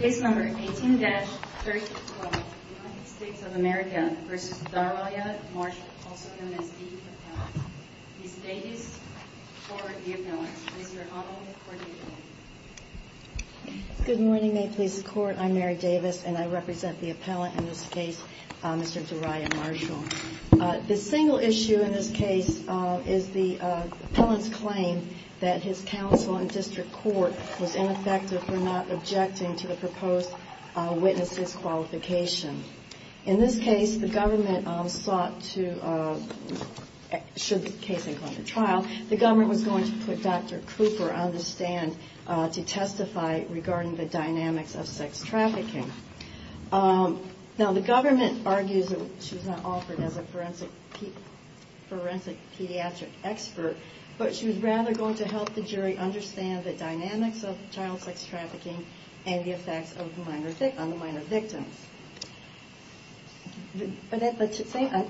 Case number 18-312 United States of America v. Daraya Marshall, also known as the appellant. Ms. Davis, for the appellant. Mr. Honnold, for the appeal. Good morning, May Police Court. I'm Mary Davis, and I represent the appellant in this case, Mr. Daraya Marshall. The single issue in this case is the appellant's claim that his counsel in district court was ineffective for not objecting to the proposed witness disqualification. In this case, the government sought to, should the case include a trial, the government was going to put Dr. Cooper on the stand to testify regarding the dynamics of sex trafficking. Now, the government argues that she was not offered as a forensic pediatric expert, but she was rather going to help the jury understand the dynamics of child sex trafficking and the effects on the minor victims. As the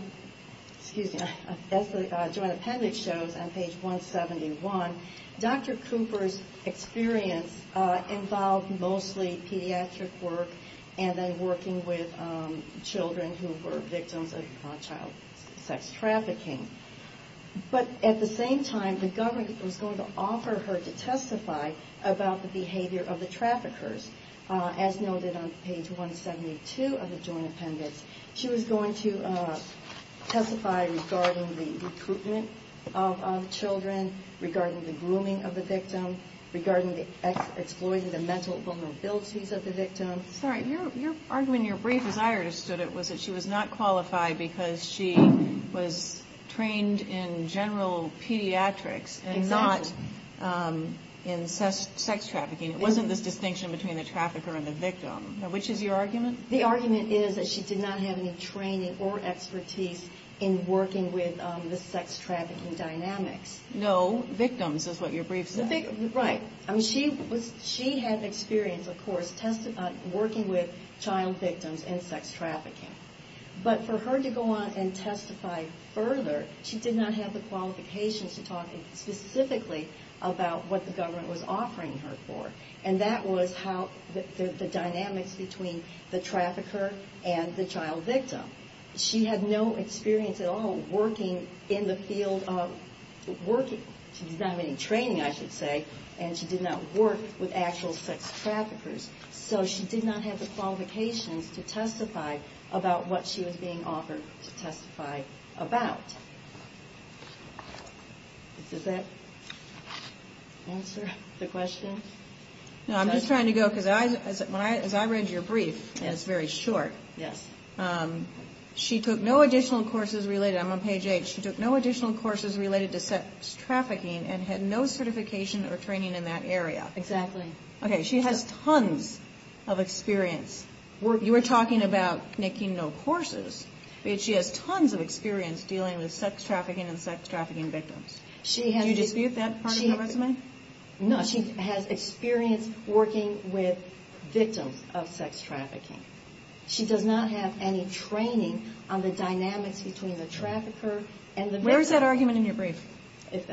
joint appendix shows on page 171, Dr. Cooper's experience involved mostly pediatric work and then working with children who were victims of child sex trafficking. But at the same time, the government was going to offer her to testify about the behavior of the traffickers. As noted on page 172 of the joint appendix, she was going to testify regarding the recruitment of children, regarding the grooming of the victim, regarding the exploiting the mental vulnerabilities of the victim. Your argument in your brief, as I understood it, was that she was not qualified because she was trained in general pediatrics and not in sex trafficking. It wasn't this distinction between the trafficker and the victim. Which is your argument? The argument is that she did not have any training or expertise in working with the sex trafficking dynamics. No, victims is what your brief said. Right. She had experience, of course, working with child victims and sex trafficking. But for her to go on and testify further, she did not have the qualifications to talk specifically about what the government was offering her for. And that was how the dynamics between the trafficker and the child victim. She had no experience at all working in the field of working. She did not have any training, I should say, and she did not work with actual sex traffickers. So she did not have the qualifications to testify about what she was being offered to testify about. Does that answer the question? No, I'm just trying to go, because as I read your brief, and it's very short, she took no additional courses related, I'm on page eight, she took no additional courses related to sex trafficking and had no certification or training in that area. Exactly. Okay, she has tons of experience. You were talking about taking no courses, but she has tons of experience dealing with sex trafficking and sex trafficking victims. Do you dispute that part of her resume? No, she has experience working with victims of sex trafficking. She does not have any training on the dynamics between the trafficker and the victim. Where is that argument in your brief? It's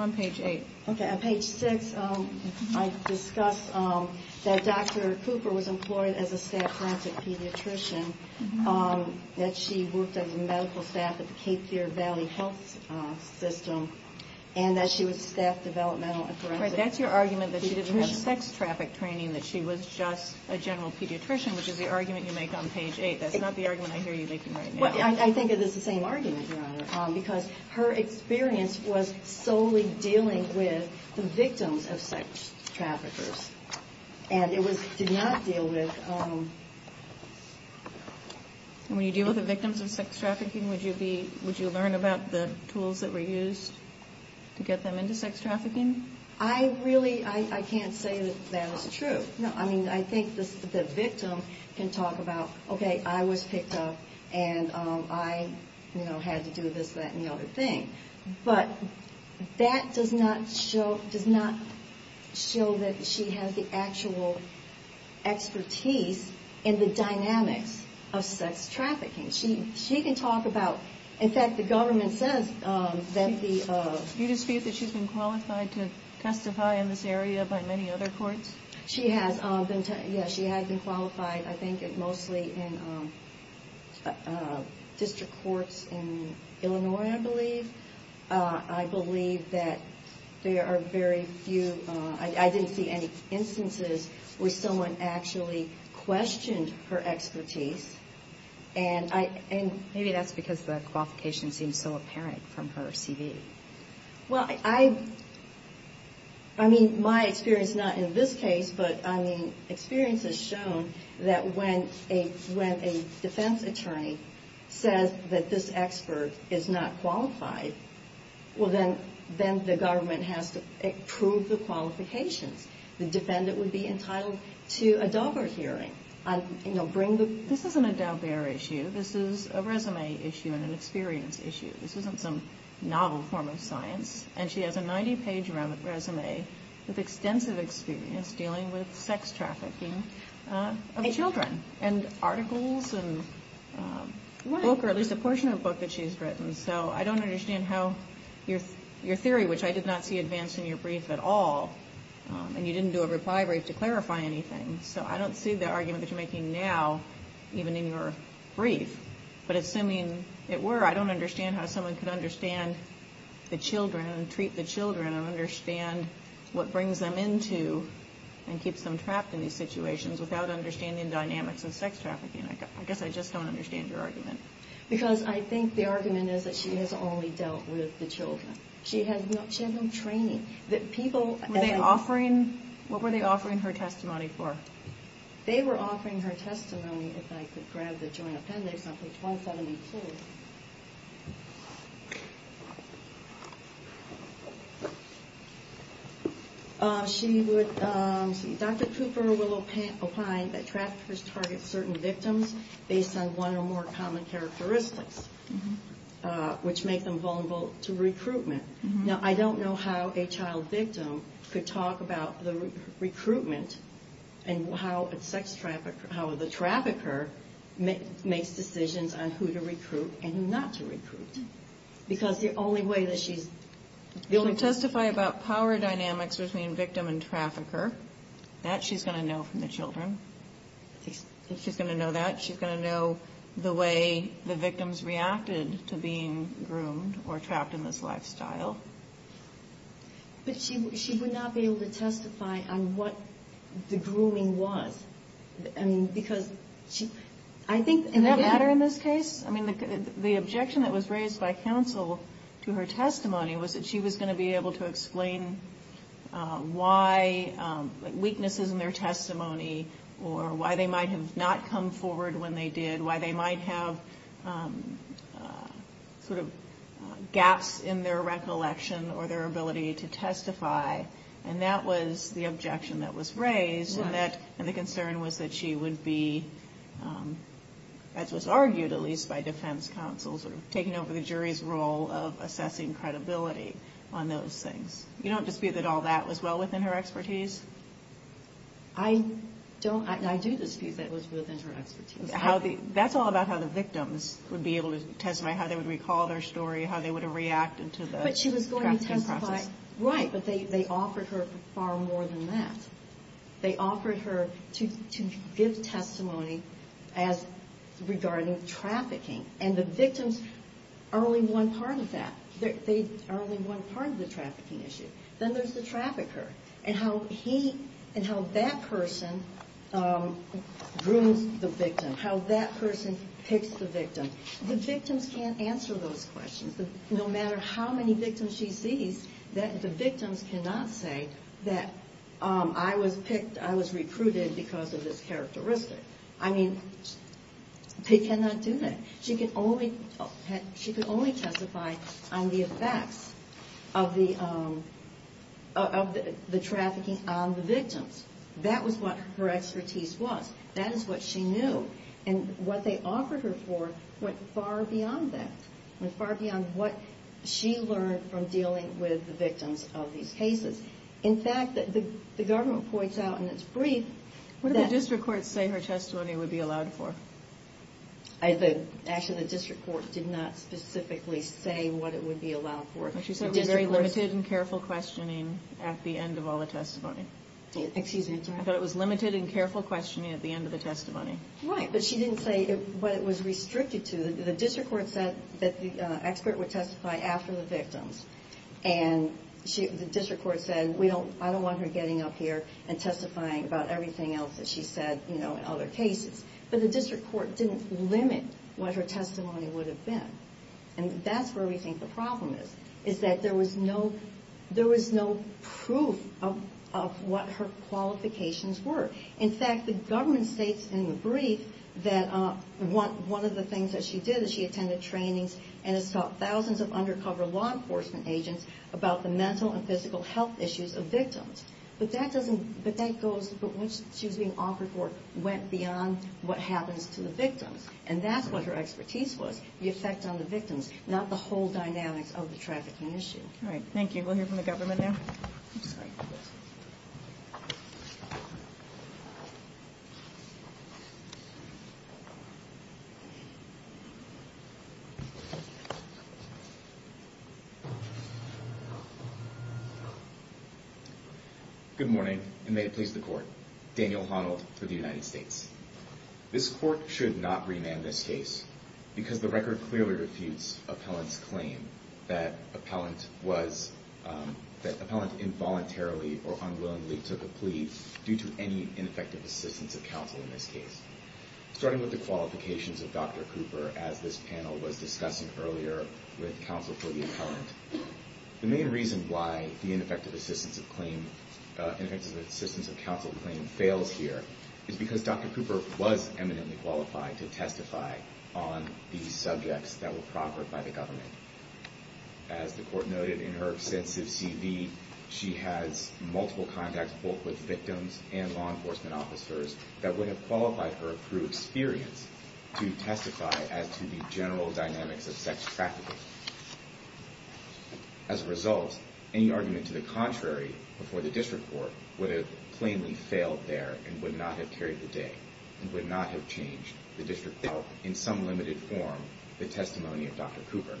on page eight. Okay, on page six, I discuss that Dr. Cooper was employed as a staff forensic pediatrician, that she worked as a medical staff at the Cape Fear Valley Health System, and that she was staff developmental forensic pediatrician. Right, that's your argument that she didn't have sex traffic training, that she was just a general pediatrician, which is the argument you make on page eight. That's not the argument I hear you making right now. Well, I think it is the same argument, Your Honor, because her experience was solely dealing with the victims of sex traffickers, and it did not deal with... When you deal with the victims of sex trafficking, would you learn about the tools that were used to get them into sex trafficking? I really, I can't say that that is true. I mean, I think the victim can talk about, okay, I was picked up, and I had to do this, that, and the other thing, but that does not show that she has the actual expertise in the dynamics of sex trafficking. She can talk about, in fact, the government says that the... Do you dispute that she's been qualified to testify in this area by many other courts? She has been, yeah, she has been qualified, I think, mostly in district courts in Illinois, I believe. I believe that there are very few, I didn't see any instances where someone actually questioned her expertise, and I... Maybe that's because the qualification seems so apparent from her CV. Well, I, I mean, my experience, not in this case, but, I mean, experience has shown that when a defense attorney says that this expert is not qualified, well, then the government has to approve the qualifications. The defendant would be entitled to a Daubert hearing, and, you know, bring the... This isn't a Daubert issue. This is a resume issue and an experience issue. This isn't some novel form of science, and she has a 90-page resume with extensive experience dealing with sex trafficking of children, and articles, and a book, or at least a portion of a book that she's written. So I don't understand how your theory, which I did not see advanced in your brief at all, and you didn't do a reply brief to clarify anything, so I don't see the argument that you're making now, even in your brief, but assuming it were, I don't understand how someone could understand the children and treat the children and understand what brings them into and keeps them trapped in these situations without understanding dynamics of sex trafficking. I guess I just don't understand your argument. Because I think the argument is that she has only dealt with the children. She has no training. What were they offering her testimony for? They were offering her testimony, if I could grab the joint appendix, on page 172. Dr. Cooper will opine that traffickers target certain victims based on one or more common characteristics, which make them vulnerable to recruitment. Now, I don't know how a child victim could talk about the recruitment and how the trafficker makes decisions on who to recruit and who not to recruit. Because the only way that she's... But she would not be able to testify on what the grooming was. I mean, because she... I mean, the objection that was raised by counsel to her testimony was that she was going to be able to explain why weaknesses in their testimony or why they might have not come forward when they did, why they might have sort of gaps in their recollection or their ability to testify. And that was the objection that was raised. And the concern was that she would be, as was argued at least by defense counsel, sort of taking over the jury's role of assessing credibility on those things. You don't dispute that all that was well within her expertise? I don't. I do dispute that it was within her expertise. That's all about how the victims would be able to testify, how they would recall their story, how they would have reacted to the trafficking process. Right, but they offered her far more than that. They offered her to give testimony as regarding trafficking. And the victims are only one part of that. They are only one part of the trafficking issue. Then there's the trafficker and how he and how that person grooms the victim, how that person picks the victim. The victims can't answer those questions. No matter how many victims she sees, the victims cannot say that I was picked, I was recruited because of this characteristic. I mean, they cannot do that. She could only testify on the effects of the trafficking on the victims. That was what her expertise was. That is what she knew. And what they offered her for went far beyond that. Went far beyond what she learned from dealing with the victims of these cases. In fact, the government points out in its brief that... What did the district court say her testimony would be allowed for? Actually, the district court did not specifically say what it would be allowed for. She said it was very limited and careful questioning at the end of all the testimony. Excuse me. I thought it was limited and careful questioning at the end of the testimony. Right, but she didn't say what it was restricted to. The district court said that the expert would testify after the victims. And the district court said, I don't want her getting up here and testifying about everything else that she said in other cases. But the district court didn't limit what her testimony would have been. And that's where we think the problem is. Is that there was no proof of what her qualifications were. In fact, the government states in the brief that one of the things that she did is she attended trainings and has taught thousands of undercover law enforcement agents about the mental and physical health issues of victims. But that doesn't... But that goes... What she was being offered for went beyond what happens to the victims. And that's what her expertise was. The effect on the victims, not the whole dynamics of the trafficking issue. All right, thank you. We'll hear from the government now. I'm sorry. Good morning, and may it please the court. Daniel Honnold for the United States. This court should not remand this case because the record clearly refutes appellant's claim that appellant was... due to any ineffective assistance of counsel in this case. Starting with the qualifications of Dr. Cooper, as this panel was discussing earlier with counsel for the appellant, the main reason why the ineffective assistance of counsel claim fails here is because Dr. Cooper was eminently qualified to testify on the subjects that were proffered by the government. As the court noted in her extensive CV, she has multiple contacts both with victims and law enforcement officers that would have qualified her through experience to testify as to the general dynamics of sex trafficking. As a result, any argument to the contrary before the district court would have plainly failed there and would not have carried the day and would not have changed the district court in some limited form the testimony of Dr. Cooper.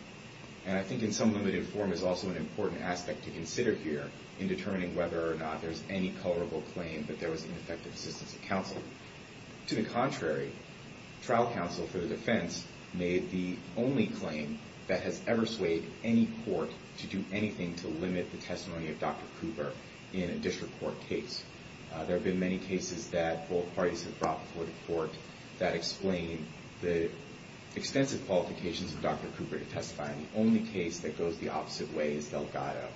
And I think in some limited form is also an important aspect to consider here in determining whether or not there's any colorable claim that there was ineffective assistance of counsel. To the contrary, trial counsel for the defense made the only claim that has ever swayed any court to do anything to limit the testimony of Dr. Cooper in a district court case. There have been many cases that both parties have brought before the court that explain the extensive qualifications of Dr. Cooper to testify. The only case that goes the opposite way is Delgado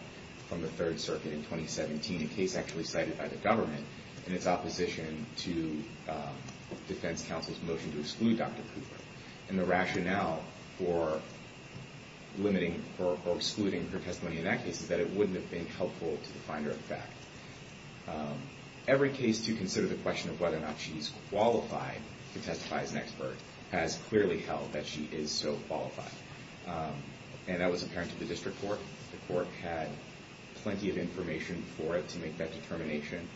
from the Third Circuit in 2017, a case actually cited by the government in its opposition to defense counsel's motion to exclude Dr. Cooper. And the rationale for limiting or excluding her testimony in that case is that it wouldn't have been helpful to the finder of fact. Every case to consider the question of whether or not she's qualified to testify as an expert has clearly held that she is so qualified. And that was apparent to the district court. The court had plenty of information for it to make that determination.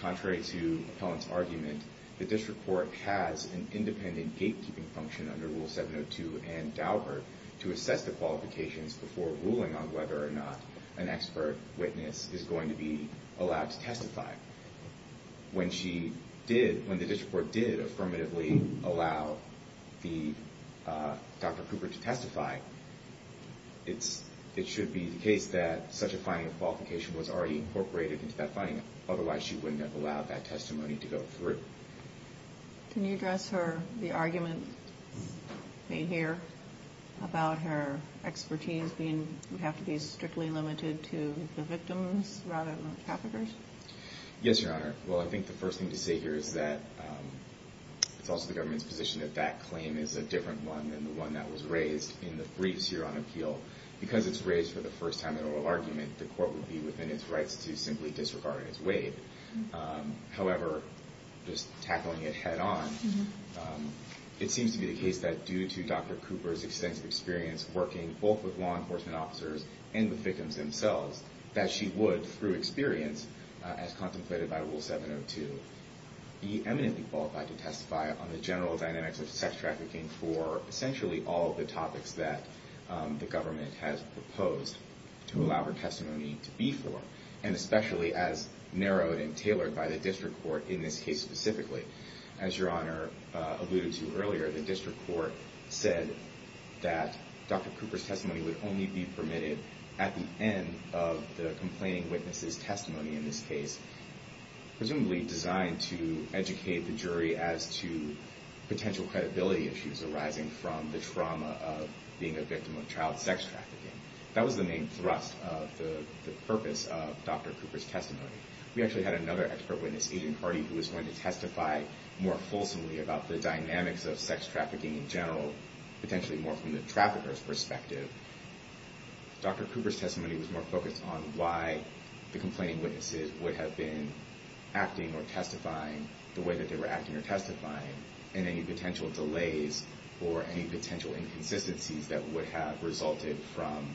Contrary to Appellant's argument, the district court has an independent gatekeeping function under Rule 702 and Daubert to assess the qualifications before ruling on whether or not an expert witness is going to be allowed to testify. When she did, when the district court did affirmatively allow Dr. Cooper to testify, it should be the case that such a finding of qualification was already incorporated into that finding. Otherwise, she wouldn't have allowed that testimony to go through. Can you address the argument made here about her expertise being you have to be strictly limited to the victims rather than the traffickers? Yes, Your Honor. Well, I think the first thing to say here is that it's also the government's position that that claim is a different one than the one that was raised in the briefs here on appeal. Because it's raised for the first time in oral argument, the court would be within its rights to simply disregard it as waived. However, just tackling it head on, it seems to be the case that due to Dr. Cooper's extensive experience working both with law enforcement officers and the victims themselves, that she would, through experience as contemplated by Rule 702, be eminently qualified to testify on the general dynamics of sex trafficking for essentially all of the topics that the government has proposed to allow her testimony to be for, and especially as narrowed and tailored by the district court in this case specifically. As Your Honor alluded to earlier, the district court said that Dr. Cooper's testimony would only be permitted at the end of the complaining witness's testimony in this case, presumably designed to educate the jury as to potential credibility issues arising from the trauma of being a victim of child sex trafficking. That was the main thrust of the purpose of Dr. Cooper's testimony. We actually had another expert witness, Agent Hardy, who was going to testify more fulsomely about the dynamics of sex trafficking in general, potentially more from the trafficker's perspective. Dr. Cooper's testimony was more focused on why the complaining witnesses would have been acting or testifying the way that they were acting or testifying, and any potential delays or any potential inconsistencies that would have resulted from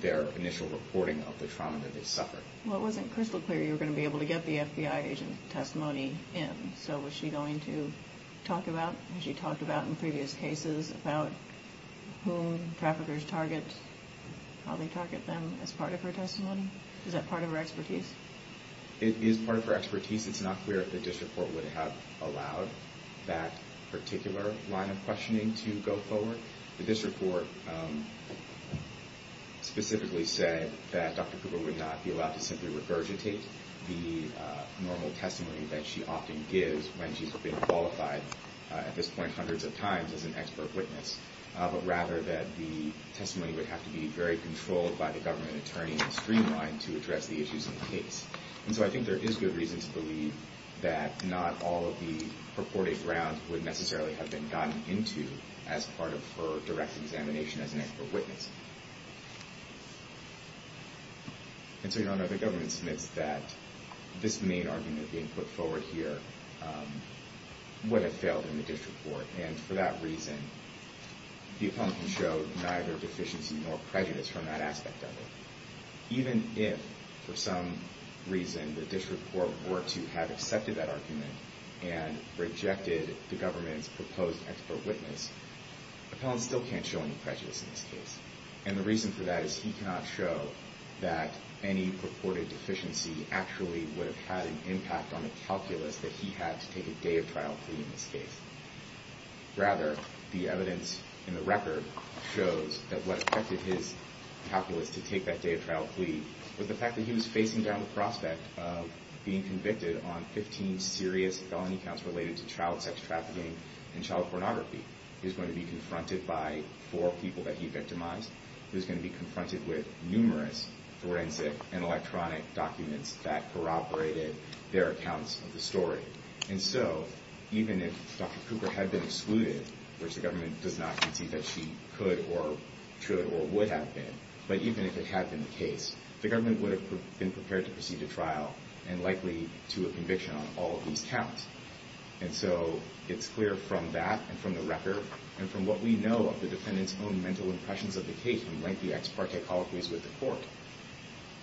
their initial reporting of the trauma that they suffered. Well, it wasn't crystal clear you were going to be able to get the FBI agent's testimony in, so was she going to talk about what she talked about in previous cases about whom traffickers target, how they target them, as part of her testimony? Is that part of her expertise? It is part of her expertise. It's not clear if the district court would have allowed that particular line of questioning to go forward. The district court specifically said that Dr. Cooper would not be allowed to simply regurgitate the normal testimony that she often gives when she's been qualified at this point hundreds of times as an expert witness, but rather that the testimony would have to be very controlled by the government attorney in the streamline to address the issues in the case. And so I think there is good reason to believe that not all of the purported grounds would necessarily have been gotten into as part of her direct examination as an expert witness. And so, Your Honor, the government submits that this main argument being put forward here would have failed in the district court, and for that reason, the appellant can show neither deficiency nor prejudice from that aspect of it. Even if, for some reason, the district court were to have accepted that argument and rejected the government's proposed expert witness, the appellant still can't show any prejudice in this case. And the reason for that is he cannot show that any purported deficiency actually would have had an impact on the calculus that he had to take a day of trial plea in this case. Rather, the evidence in the record shows that what affected his calculus to take that day of trial plea was the fact that he was facing down the prospect of being convicted on 15 serious felony counts related to child sex trafficking and child pornography. He was going to be confronted by four people that he victimized. He was going to be confronted with numerous forensic and electronic documents that corroborated their accounts of the story. And so even if Dr. Cooper had been excluded, which the government does not concede that she could or should or would have been, but even if it had been the case, the government would have been prepared to proceed to trial and likely to a conviction on all of these counts. And so it's clear from that and from the record and from what we know of the defendant's own mental impressions of the case and lengthy ex parte colloquies with the court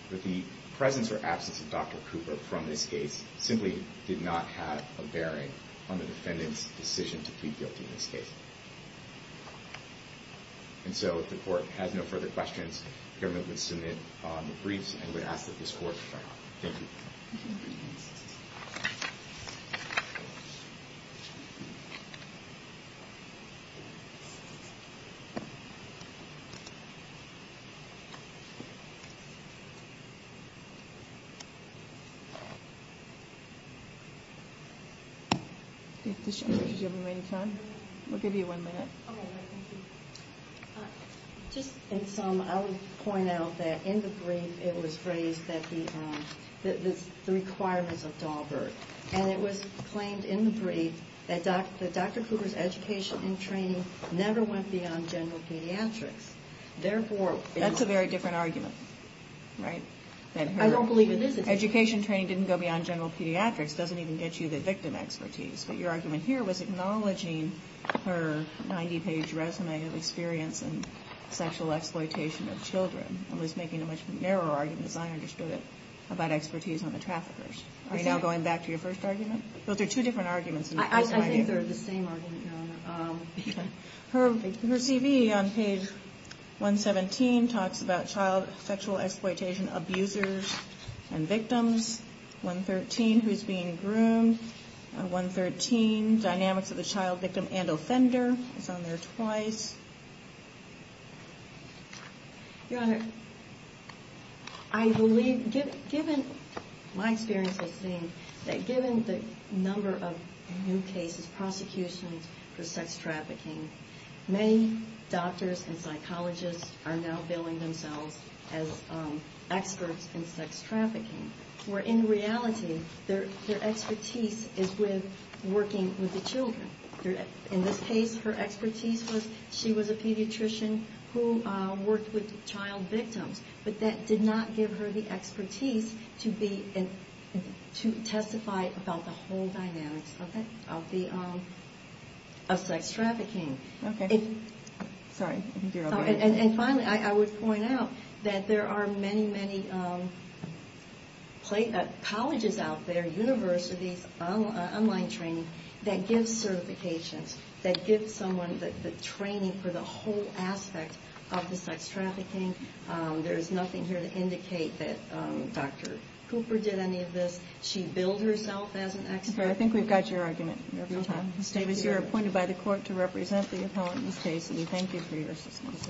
that the presence or absence of Dr. Cooper from this case simply did not have a bearing on the defendant's decision to plead guilty in this case. And so if the court has no further questions, the government would submit the briefs and would ask that this court adjourn. Thank you. We'll give you one minute. Just in sum, I would point out that in the brief it was phrased that the requirements of Dahlberg. And it was claimed in the brief that Dr. Cooper's education and training never went beyond general pediatrics. That's a very different argument, right? I don't believe in this. Education training didn't go beyond general pediatrics. It doesn't even get you the victim expertise. But your argument here was acknowledging her 90-page resume of experience in sexual exploitation of children. It was making a much narrower argument, as I understood it, about expertise on the traffickers. Are you now going back to your first argument? I think they're the same argument, Your Honor. Her CV on page 117 talks about child sexual exploitation abusers and victims. 113, who's being groomed. 113, dynamics of the child victim and offender. It's on there twice. Your Honor, I believe, given my experience of seeing that given the number of new cases, prosecutions for sex trafficking, many doctors and psychologists are now billing themselves as experts in sex trafficking. Where in reality, their expertise is with working with the children. In this case, her expertise was she was a pediatrician who worked with child victims. But that did not give her the expertise to testify about the whole dynamics of sex trafficking. And finally, I would point out that there are many, many colleges out there, universities, online training, that give certifications, that give someone the training for the whole aspect of the sex trafficking. There's nothing here to indicate that Dr. Cooper did any of this. She billed herself as an expert. I think we've got your argument, Your Honor. Ms. Davis, you're appointed by the court to represent the appellant in this case. And we thank you for your assistance.